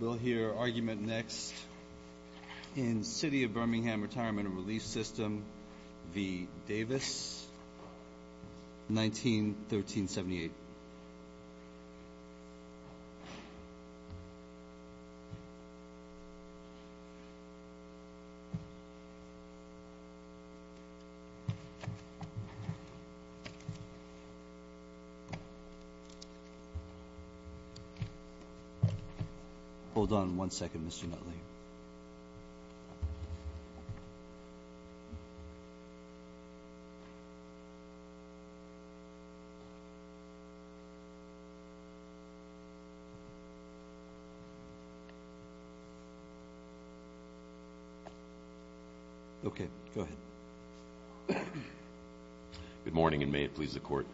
We'll hear argument next in City of Birmingham Retirement and Relief System v. Davis, 19-1378. Hold on one second, Mr. Nutley. Okay, go ahead. Good morning, and may it please the Court,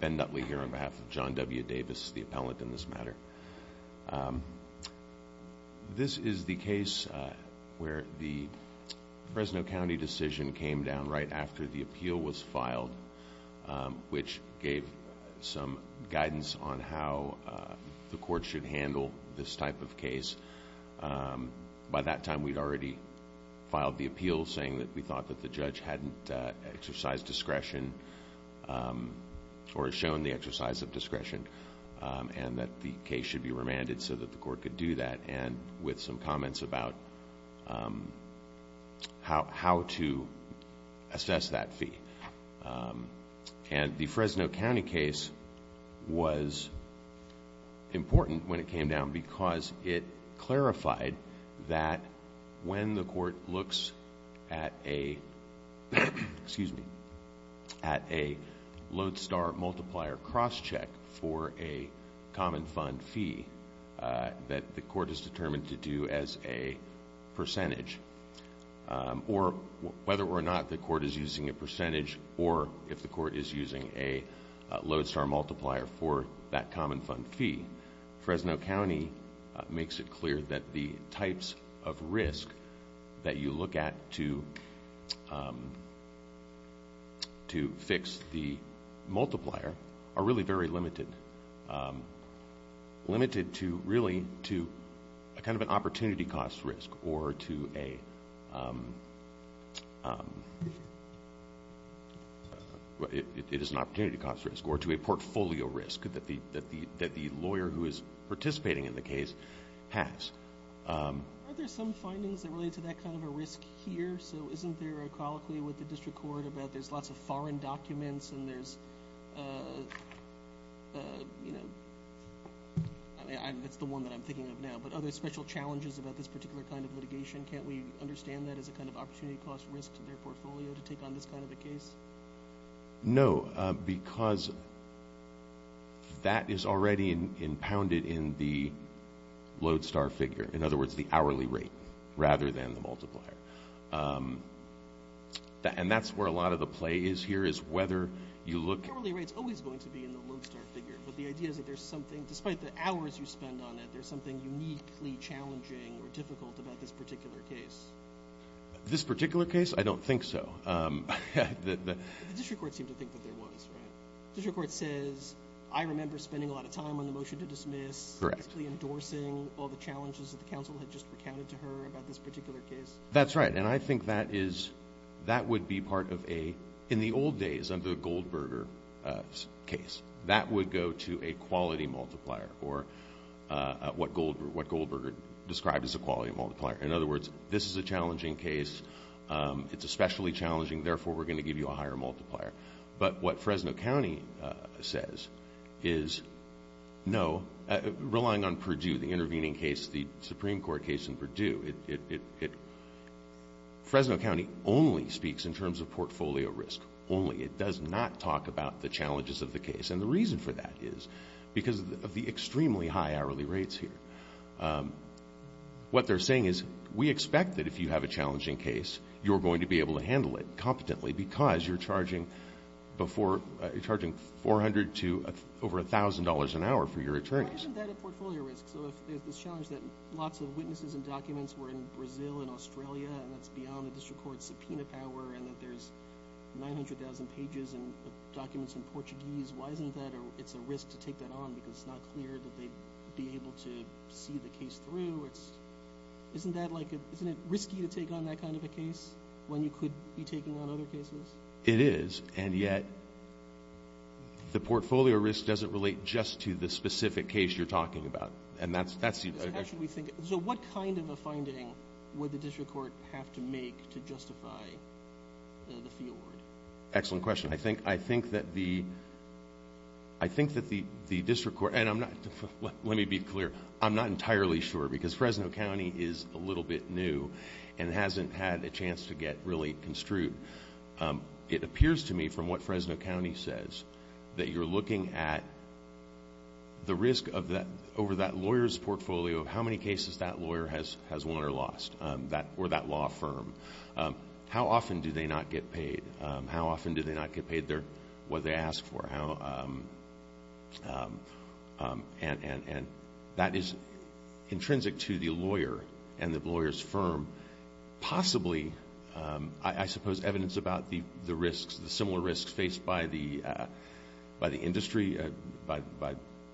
Ben Nutley here on behalf of John W. Davis, the appellant in this matter. This is the case where the Fresno County decision came down right after the appeal was filed, which gave some guidance on how the Court should handle this type of case. By that time, we'd already filed the appeal saying that we thought that the judge hadn't exercised discretion or shown the exercise of discretion and that the case should be remanded so that the Court could do that, and with some comments about how to assess that fee. And the Fresno County case was important when it came down because it clarified that when the Court looks at a load-star multiplier cross-check for a common fund fee that the Court is determined to do as a percentage, or whether or not the Court is using a percentage or if the Court is using a load-star multiplier for that common fund fee, Fresno County makes it clear that the types of risk that you look at to fix the multiplier are really very limited. Limited to really to a kind of an opportunity cost risk or to a portfolio risk that the lawyer who is participating in the case has. Are there some findings that relate to that kind of a risk here? So isn't there a colloquy with the District Court about there's lots of foreign documents and there's, you know, that's the one that I'm thinking of now, but are there special challenges about this particular kind of litigation? Can't we understand that as a kind of opportunity cost risk to their portfolio to take on this kind of a case? No, because that is already impounded in the load-star figure. In other words, the hourly rate rather than the multiplier. And that's where a lot of the play is here is whether you look... The hourly rate is always going to be in the load-star figure, but the idea is that there's something, despite the hours you spend on it, there's something uniquely challenging or difficult about this particular case. This particular case? I don't think so. The District Court seemed to think that there was, right? The District Court says, I remember spending a lot of time on the motion to dismiss. Correct. Basically endorsing all the challenges that the counsel had just recounted to her about this particular case. That's right, and I think that would be part of a... In the old days, under the Goldberger case, that would go to a quality multiplier or what Goldberger described as a quality multiplier. In other words, this is a challenging case. It's especially challenging, therefore we're going to give you a higher multiplier. But what Fresno County says is no, relying on Purdue, the intervening case, the Supreme Court case in Purdue. Fresno County only speaks in terms of portfolio risk, only. It does not talk about the challenges of the case. And the reason for that is because of the extremely high hourly rates here. What they're saying is, we expect that if you have a challenging case, you're going to be able to handle it competently, because you're charging $400 to over $1,000 an hour for your attorneys. Why isn't that a portfolio risk? So if there's this challenge that lots of witnesses and documents were in Brazil and Australia, and that's beyond the District Court's subpoena power, and that there's 900,000 pages of documents in Portuguese, why isn't that a risk to take that on? Because it's not clear that they'd be able to see the case through. Isn't it risky to take on that kind of a case when you could be taking on other cases? It is, and yet the portfolio risk doesn't relate just to the specific case you're talking about. So what kind of a finding would the District Court have to make to justify the fee award? Excellent question. I think that the District Court—and let me be clear. I'm not entirely sure, because Fresno County is a little bit new and hasn't had a chance to get really construed. It appears to me, from what Fresno County says, that you're looking at the risk over that lawyer's portfolio of how many cases that lawyer has won or lost, or that law firm. How often do they not get paid? How often do they not get paid what they ask for? And that is intrinsic to the lawyer and the lawyer's firm. Possibly, I suppose, evidence about the risks, the similar risks faced by the industry, by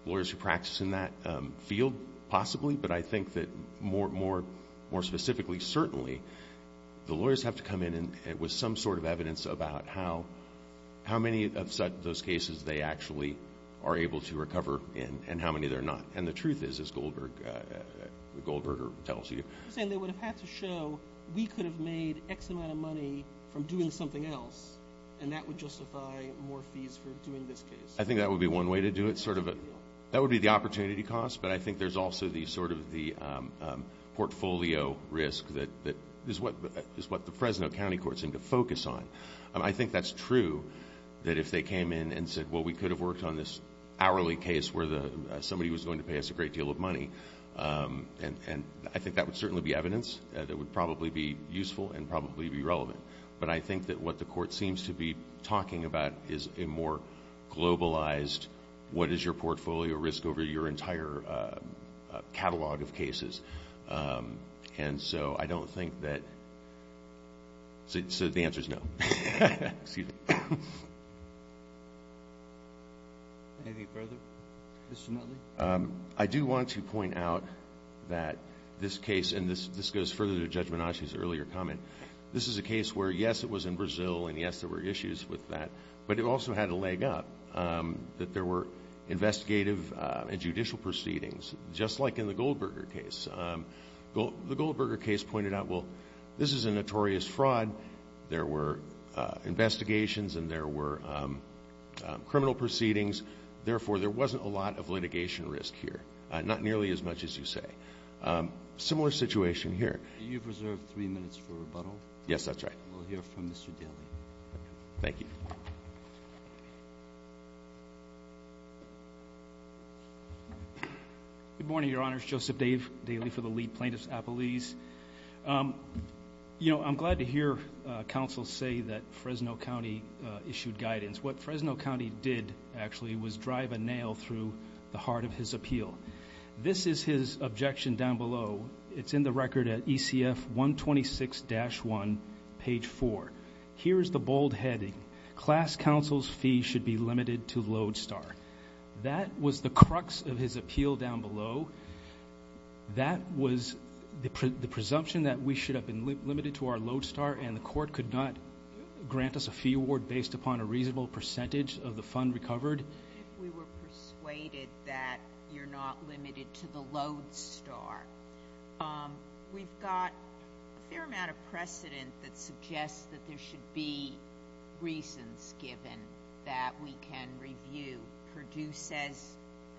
lawyers who practice in that field, possibly, but I think that more specifically, certainly, the lawyers have to come in with some sort of evidence about how many of those cases they actually are able to recover and how many they're not. And the truth is, as Goldberger tells you— You're saying they would have had to show, we could have made X amount of money from doing something else, and that would justify more fees for doing this case. I think that would be one way to do it, sort of. That would be the opportunity cost, but I think there's also sort of the portfolio risk that is what the Fresno County Courts seem to focus on. I think that's true, that if they came in and said, well, we could have worked on this hourly case where somebody was going to pay us a great deal of money, and I think that would certainly be evidence that would probably be useful and probably be relevant. But I think that what the court seems to be talking about is a more globalized, what is your portfolio risk over your entire catalog of cases. And so I don't think that—so the answer is no. Excuse me. Anything further? Mr. Nutley? I do want to point out that this case, and this goes further to Judge Menache's earlier comment, this is a case where, yes, it was in Brazil, and, yes, there were issues with that, but it also had to leg up that there were investigative and judicial proceedings, just like in the Goldberger case. The Goldberger case pointed out, well, this is a notorious fraud. There were investigations and there were criminal proceedings. Therefore, there wasn't a lot of litigation risk here, not nearly as much as you say. Similar situation here. You've reserved three minutes for rebuttal. Yes, that's right. We'll hear from Mr. Daly. Thank you. Good morning, Your Honors. Joseph Dave Daly for the League Plaintiffs Appellees. You know, I'm glad to hear counsel say that Fresno County issued guidance. What Fresno County did, actually, was drive a nail through the heart of his appeal. This is his objection down below. It's in the record at ECF 126-1, page 4. Here is the bold heading, class counsel's fee should be limited to Lodestar. That was the crux of his appeal down below. That was the presumption that we should have been limited to our Lodestar and the court could not grant us a fee award based upon a reasonable percentage of the fund recovered. If we were persuaded that you're not limited to the Lodestar, we've got a fair amount of precedent that suggests that there should be reasons given that we can review. Perdue says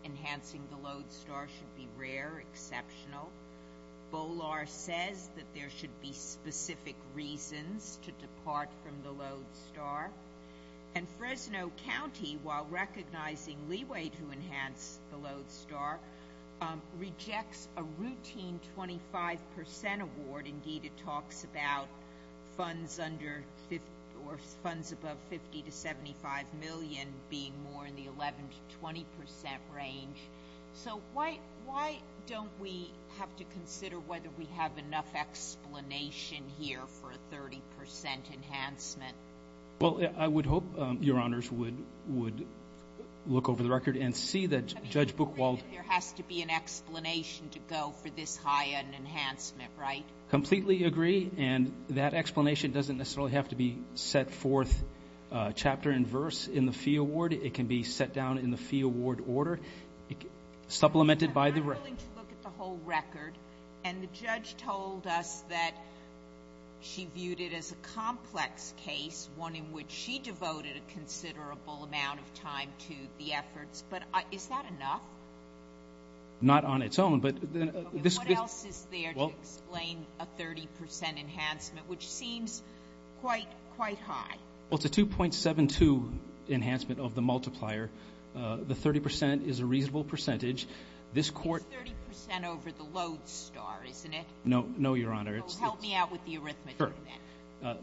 enhancing the Lodestar should be rare, exceptional. Bolar says that there should be specific reasons to depart from the Lodestar. And Fresno County, while recognizing leeway to enhance the Lodestar, rejects a routine 25% award. Indeed, it talks about funds under or funds above 50 to 75 million being more in the 11 to 20% range. So why don't we have to consider whether we have enough explanation here for a 30% enhancement? Well, I would hope Your Honors would look over the record and see that Judge Buchwald There has to be an explanation to go for this high an enhancement, right? Completely agree. And that explanation doesn't necessarily have to be set forth chapter and verse in the fee award. It can be set down in the fee award order, supplemented by the record. And the judge told us that she viewed it as a complex case, one in which she devoted a considerable amount of time to the efforts. But is that enough? Not on its own. But what else is there to explain a 30% enhancement, which seems quite high? Well, it's a 2.72 enhancement of the multiplier. The 30% is a reasonable percentage. It's 30% over the Lodestar, isn't it? No, Your Honor. Help me out with the arithmetic. Sure.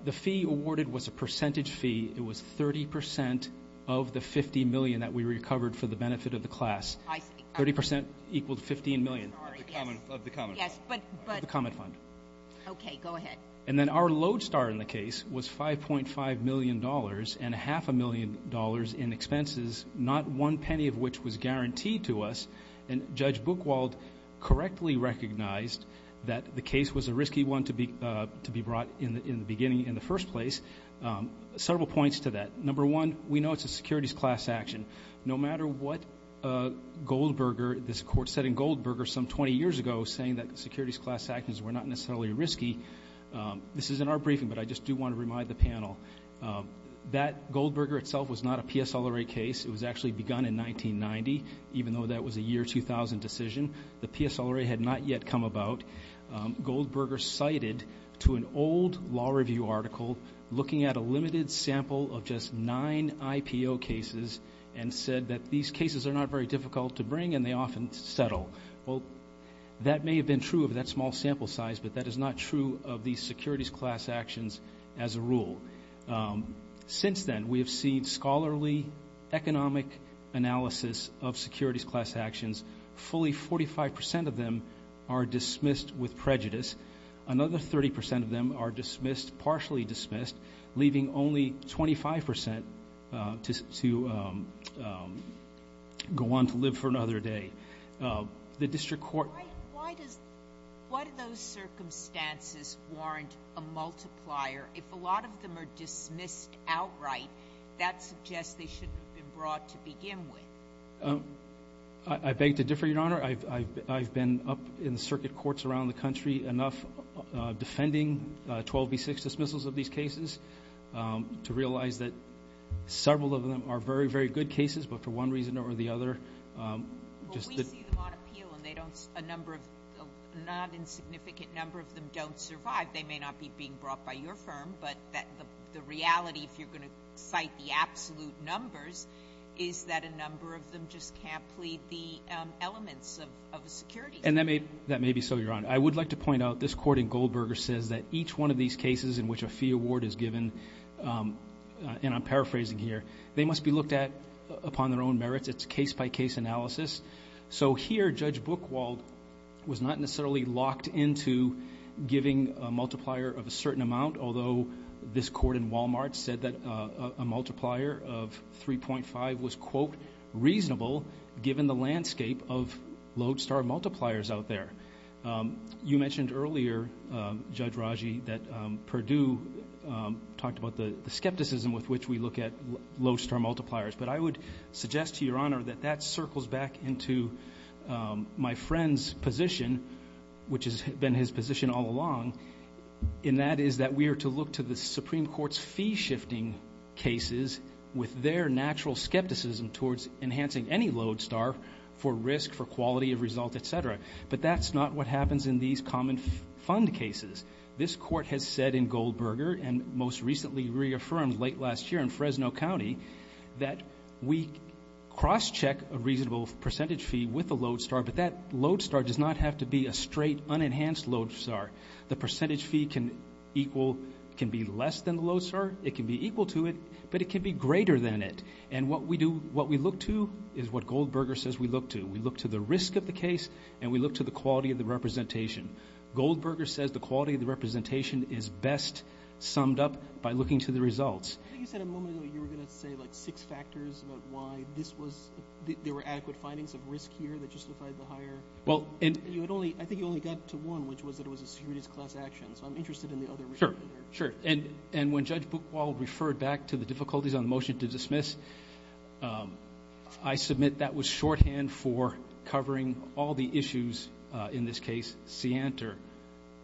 The fee awarded was a percentage fee. It was 30% of the 50 million that we recovered for the benefit of the class. 30% equaled 15 million. Of the common fund. Yes, but. Of the common fund. Okay, go ahead. And then our Lodestar in the case was $5.5 million and half a million dollars in expenses, not one penny of which was guaranteed to us. And Judge Buchwald correctly recognized that the case was a risky one to be brought in the beginning, in the first place. Several points to that. Number one, we know it's a securities class action. No matter what Goldberger, this Court said in Goldberger some 20 years ago, saying that securities class actions were not necessarily risky. This is in our briefing, but I just do want to remind the panel. That Goldberger itself was not a PSLRA case. It was actually begun in 1990, even though that was a year 2000 decision. The PSLRA had not yet come about. Goldberger cited to an old law review article looking at a limited sample of just nine IPO cases and said that these cases are not very difficult to bring and they often settle. Well, that may have been true of that small sample size, but that is not true of these securities class actions as a rule. Since then, we have seen scholarly economic analysis of securities class actions. Fully 45% of them are dismissed with prejudice. Another 30% of them are dismissed, partially dismissed, leaving only 25% to go on to live for another day. The district court. Why do those circumstances warrant a multiplier? If a lot of them are dismissed outright, that suggests they shouldn't have been brought to begin with. I beg to differ, Your Honor. I've been up in circuit courts around the country enough, defending 12B6 dismissals of these cases to realize that several of them are very, very good cases, but for one reason or the other. We see them on appeal, and a non-insignificant number of them don't survive. They may not be being brought by your firm, but the reality, if you're going to cite the absolute numbers, is that a number of them just can't plead the elements of a securities case. And that may be so, Your Honor. I would like to point out this court in Goldberger says that each one of these cases in which a fee award is given, and I'm paraphrasing here, they must be looked at upon their own merits. It's case-by-case analysis. So here Judge Buchwald was not necessarily locked into giving a multiplier of a certain amount, although this court in Wal-Mart said that a multiplier of 3.5 was, quote, reasonable given the landscape of lodestar multipliers out there. You mentioned earlier, Judge Raji, that Perdue talked about the skepticism with which we look at lodestar multipliers. But I would suggest to Your Honor that that circles back into my friend's position, which has been his position all along, and that is that we are to look to the Supreme Court's fee-shifting cases with their natural skepticism towards enhancing any lodestar for risk, for quality of result, et cetera. But that's not what happens in these common fund cases. This court has said in Goldberger, and most recently reaffirmed late last year in Fresno County, that we cross-check a reasonable percentage fee with a lodestar, but that lodestar does not have to be a straight, unenhanced lodestar. The percentage fee can equal, can be less than the lodestar. It can be equal to it, but it can be greater than it. And what we do, what we look to is what Goldberger says we look to. We look to the risk of the case, and we look to the quality of the representation. Goldberger says the quality of the representation is best summed up by looking to the results. I think you said a moment ago you were going to say, like, six factors about why this was, there were adequate findings of risk here that justified the hire. Well, and you had only, I think you only got to one, which was that it was a securities class action. So I'm interested in the other. Sure, sure. And when Judge Buchwald referred back to the difficulties on the motion to dismiss, I submit that was shorthand for covering all the issues in this case,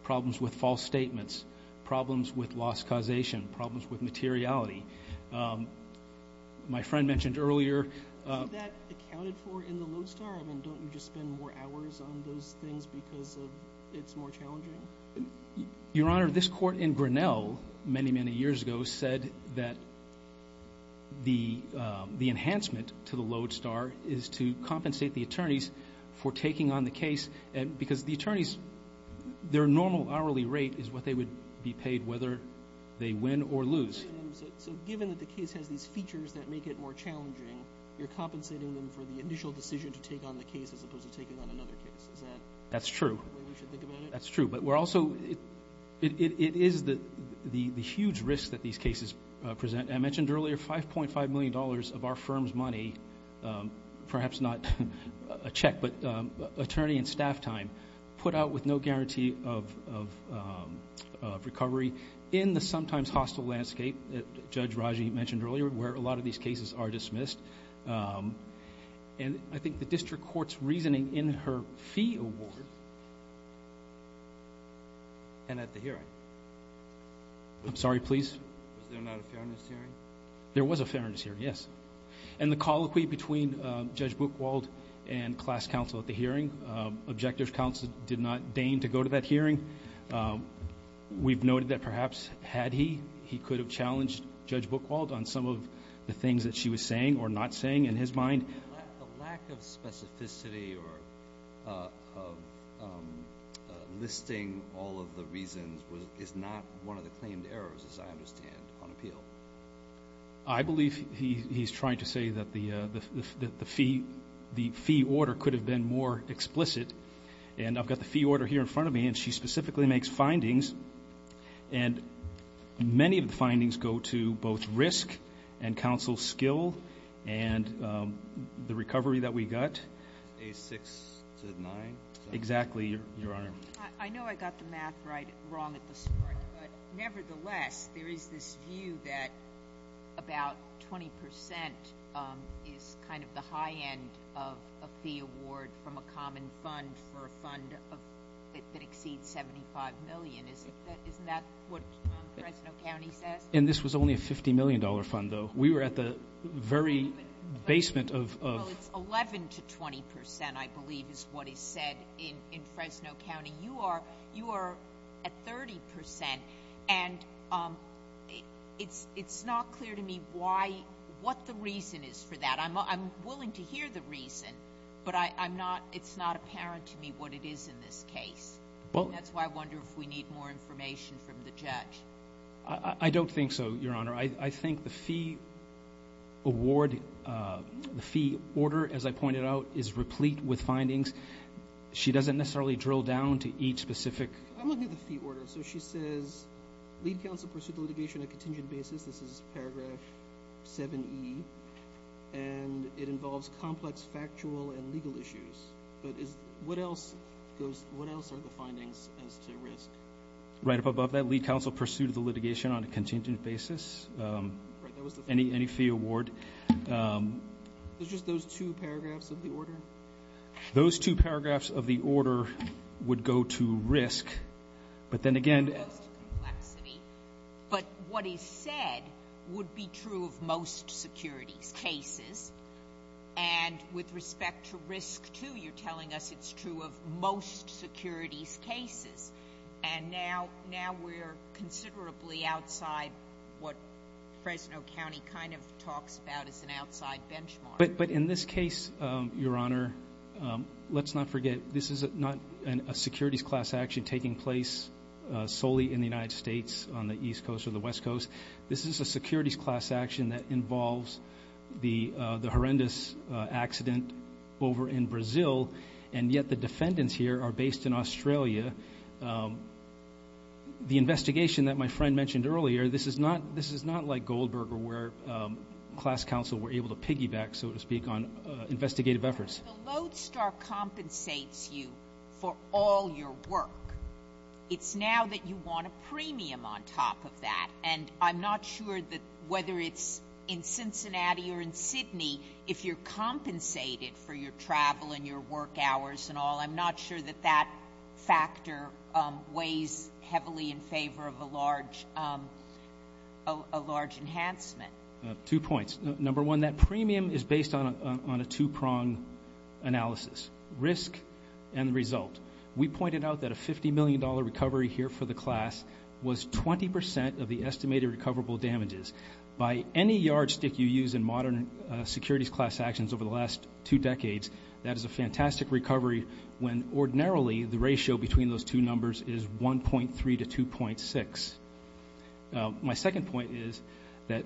problems with false statements, problems with loss causation, problems with materiality. My friend mentioned earlier. Is that accounted for in the lodestar? I mean, don't you just spend more hours on those things because it's more challenging? Your Honor, this court in Grinnell many, many years ago said that the enhancement to the lodestar is to compensate the attorneys for taking on the case because the attorneys, their normal hourly rate is what they would be paid whether they win or lose. So given that the case has these features that make it more challenging, you're compensating them for the initial decision to take on the case as opposed to taking on another case. That's true. That's true. But we're also, it is the huge risk that these cases present. I mentioned earlier $5.5 million of our firm's money, perhaps not a check, but attorney and staff time put out with no guarantee of recovery in the sometimes hostile landscape that Judge Raji mentioned earlier where a lot of these cases are dismissed. And I think the district court's reasoning in her fee award and at the hearing. I'm sorry, please. Was there not a fairness hearing? There was a fairness hearing, yes. And the colloquy between Judge Buchwald and class counsel at the hearing. Objective counsel did not deign to go to that hearing. We've noted that perhaps had he, he could have challenged Judge Buchwald on some of the things that she was saying or not saying in his mind. The lack of specificity or listing all of the reasons is not one of the claimed errors, as I understand, on appeal. I believe he's trying to say that the fee order could have been more explicit. And I've got the fee order here in front of me, and she specifically makes findings. And many of the findings go to both risk and counsel's skill and the recovery that we got. A6 to 9? Exactly, Your Honor. I know I got the math right wrong at this point, but nevertheless there is this view that about 20% is kind of the high end of a fee award from a common fund for a fund that exceeds $75 million. Isn't that what Fresno County says? And this was only a $50 million fund, though. We were at the very basement of ---- Well, it's 11% to 20%, I believe is what is said in Fresno County. You are at 30%, and it's not clear to me what the reason is for that. I'm willing to hear the reason, but it's not apparent to me what it is in this case. That's why I wonder if we need more information from the judge. I don't think so, Your Honor. I think the fee award, the fee order, as I pointed out, is replete with findings. She doesn't necessarily drill down to each specific ---- I'm looking at the fee order. So she says lead counsel pursued the litigation on a contingent basis. This is paragraph 7E. And it involves complex factual and legal issues. But what else are the findings as to risk? Right up above that, lead counsel pursued the litigation on a contingent basis. Any fee award. It's just those two paragraphs of the order? Those two paragraphs of the order would go to risk. But then again ---- But what is said would be true of most securities cases. And with respect to risk, too, you're telling us it's true of most securities cases. And now we're considerably outside what Fresno County kind of talks about as an outside benchmark. But in this case, Your Honor, let's not forget, this is not a securities class action taking place solely in the United States on the East Coast or the West Coast. This is a securities class action that involves the horrendous accident over in Brazil. And yet the defendants here are based in Australia. The investigation that my friend mentioned earlier, this is not like Goldberger where class counsel were able to piggyback, so to speak, on investigative efforts. The lodestar compensates you for all your work. It's now that you want a premium on top of that. And I'm not sure that whether it's in Cincinnati or in Sydney, if you're compensated for your travel and your work hours and all, I'm not sure that that factor weighs heavily in favor of a large enhancement. Two points. Number one, that premium is based on a two-prong analysis, risk and the result. We pointed out that a $50 million recovery here for the class was 20% of the estimated recoverable damages. By any yardstick you use in modern securities class actions over the last two decades, that is a fantastic recovery when ordinarily the ratio between those two numbers is 1.3 to 2.6. My second point is that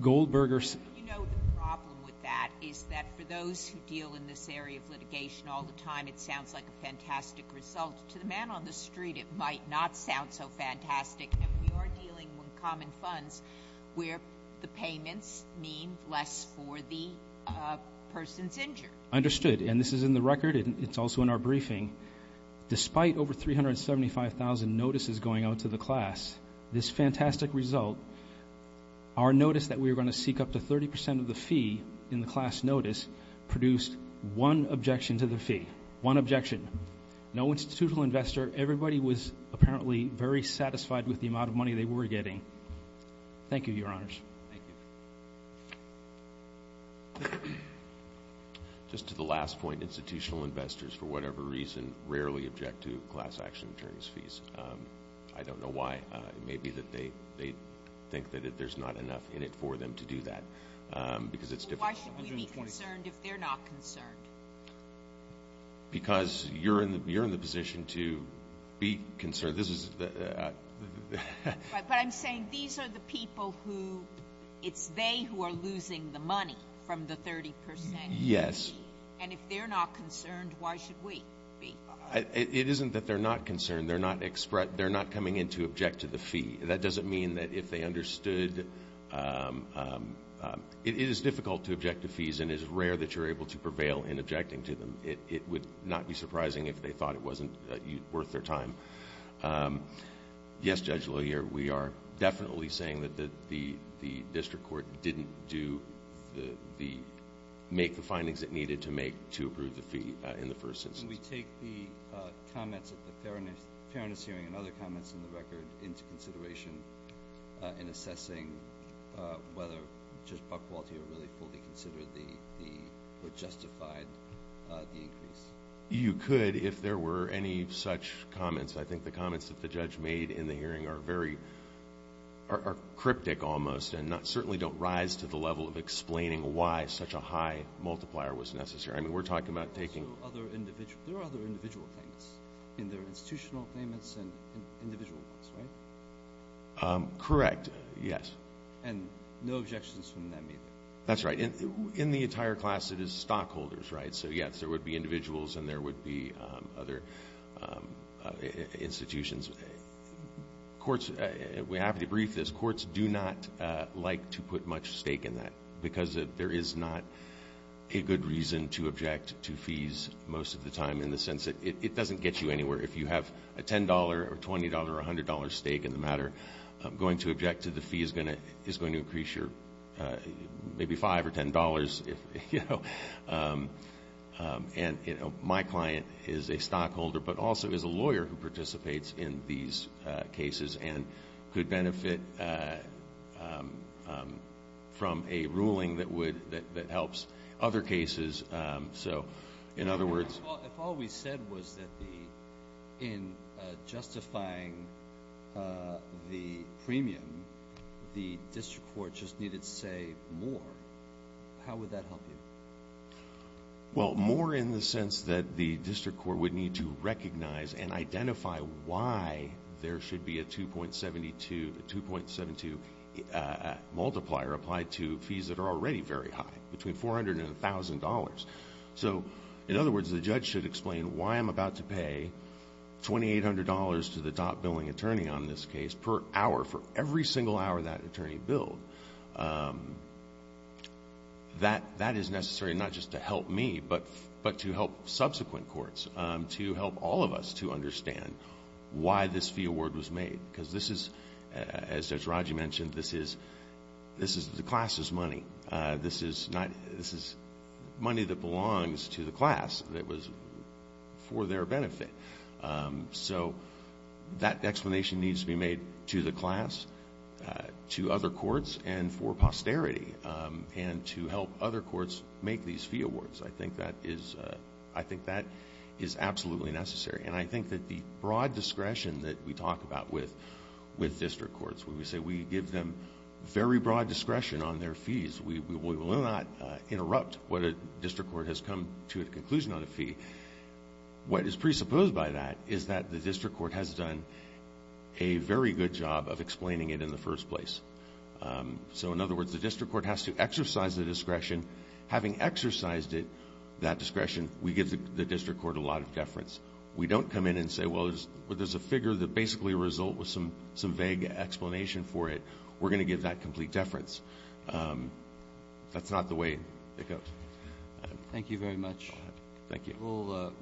Goldberger's ---- You know, the problem with that is that for those who deal in this area of litigation all the time, it sounds like a fantastic result. To the man on the street, it might not sound so fantastic. And we are dealing with common funds where the payments mean less for the person's injured. Understood. And this is in the record. It's also in our briefing. Despite over 375,000 notices going out to the class, this fantastic result, our notice that we were going to seek up to 30% of the fee in the class notice produced one objection to the fee. One objection. No institutional investor. Everybody was apparently very satisfied with the amount of money they were getting. Thank you, Your Honors. Just to the last point, institutional investors, for whatever reason, rarely object to class action attorneys' fees. I don't know why. It may be that they think that there's not enough in it for them to do that because it's difficult. Why should we be concerned if they're not concerned? Because you're in the position to be concerned. But I'm saying these are the people who ---- it's they who are losing the money from the 30%. Yes. And if they're not concerned, why should we be? It isn't that they're not concerned. They're not coming in to object to the fee. That doesn't mean that if they understood ---- it is difficult to object to fees and it is rare that you're able to prevail in objecting to them. It would not be surprising if they thought it wasn't worth their time. Yes, Judge LaHier, we are definitely saying that the district court didn't do the ---- make the findings it needed to make to approve the fee in the first instance. Can we take the comments at the Fairness Hearing and other comments in the record into consideration in assessing whether Judge Buckwalt here really fully considered the ---- or justified the increase? You could if there were any such comments. I think the comments that the judge made in the hearing are very ---- are cryptic almost and certainly don't rise to the level of explaining why such a high multiplier was necessary. I mean, we're talking about taking ---- So other individual ---- there are other individual claims in their institutional claimants and individual ones, right? Correct, yes. And no objections from them either? That's right. In the entire class, it is stockholders, right? So, yes, there would be individuals and there would be other institutions. Courts ---- we have to debrief this. Courts do not like to put much stake in that because there is not a good reason to object to fees most of the time in the sense that it doesn't get you anywhere. If you have a $10 or $20 or $100 stake in the matter, going to object to the fee is going to increase your maybe $5 or $10, you know. And, you know, my client is a stockholder but also is a lawyer who participates in these cases and could benefit from a ruling that would ---- that helps other cases. So, in other words ---- If all we said was that the ---- in justifying the premium, the district court just needed to say more, how would that help you? Well, more in the sense that the district court would need to recognize and identify why there should be a 2.72 multiplier applied to fees that are already very high, between $400 and $1,000. So, in other words, the judge should explain why I'm about to pay $2,800 to the top billing attorney on this case per hour for every single hour that attorney billed. That is necessary not just to help me but to help subsequent courts, to help all of us to understand why this fee award was made. Because this is, as Judge Raji mentioned, this is the class's money. This is money that belongs to the class that was for their benefit. So that explanation needs to be made to the class, to other courts, and for posterity, and to help other courts make these fee awards. I think that is absolutely necessary. And I think that the broad discretion that we talk about with district courts, when we say we give them very broad discretion on their fees, we will not interrupt what a district court has come to a conclusion on a fee. What is presupposed by that is that the district court has done a very good job of explaining it in the first place. So, in other words, the district court has to exercise the discretion, having exercised that discretion, we give the district court a lot of deference. We don't come in and say, well, there's a figure that basically results in some vague explanation for it. We're going to give that complete deference. That's not the way it goes. Thank you very much. Thank you.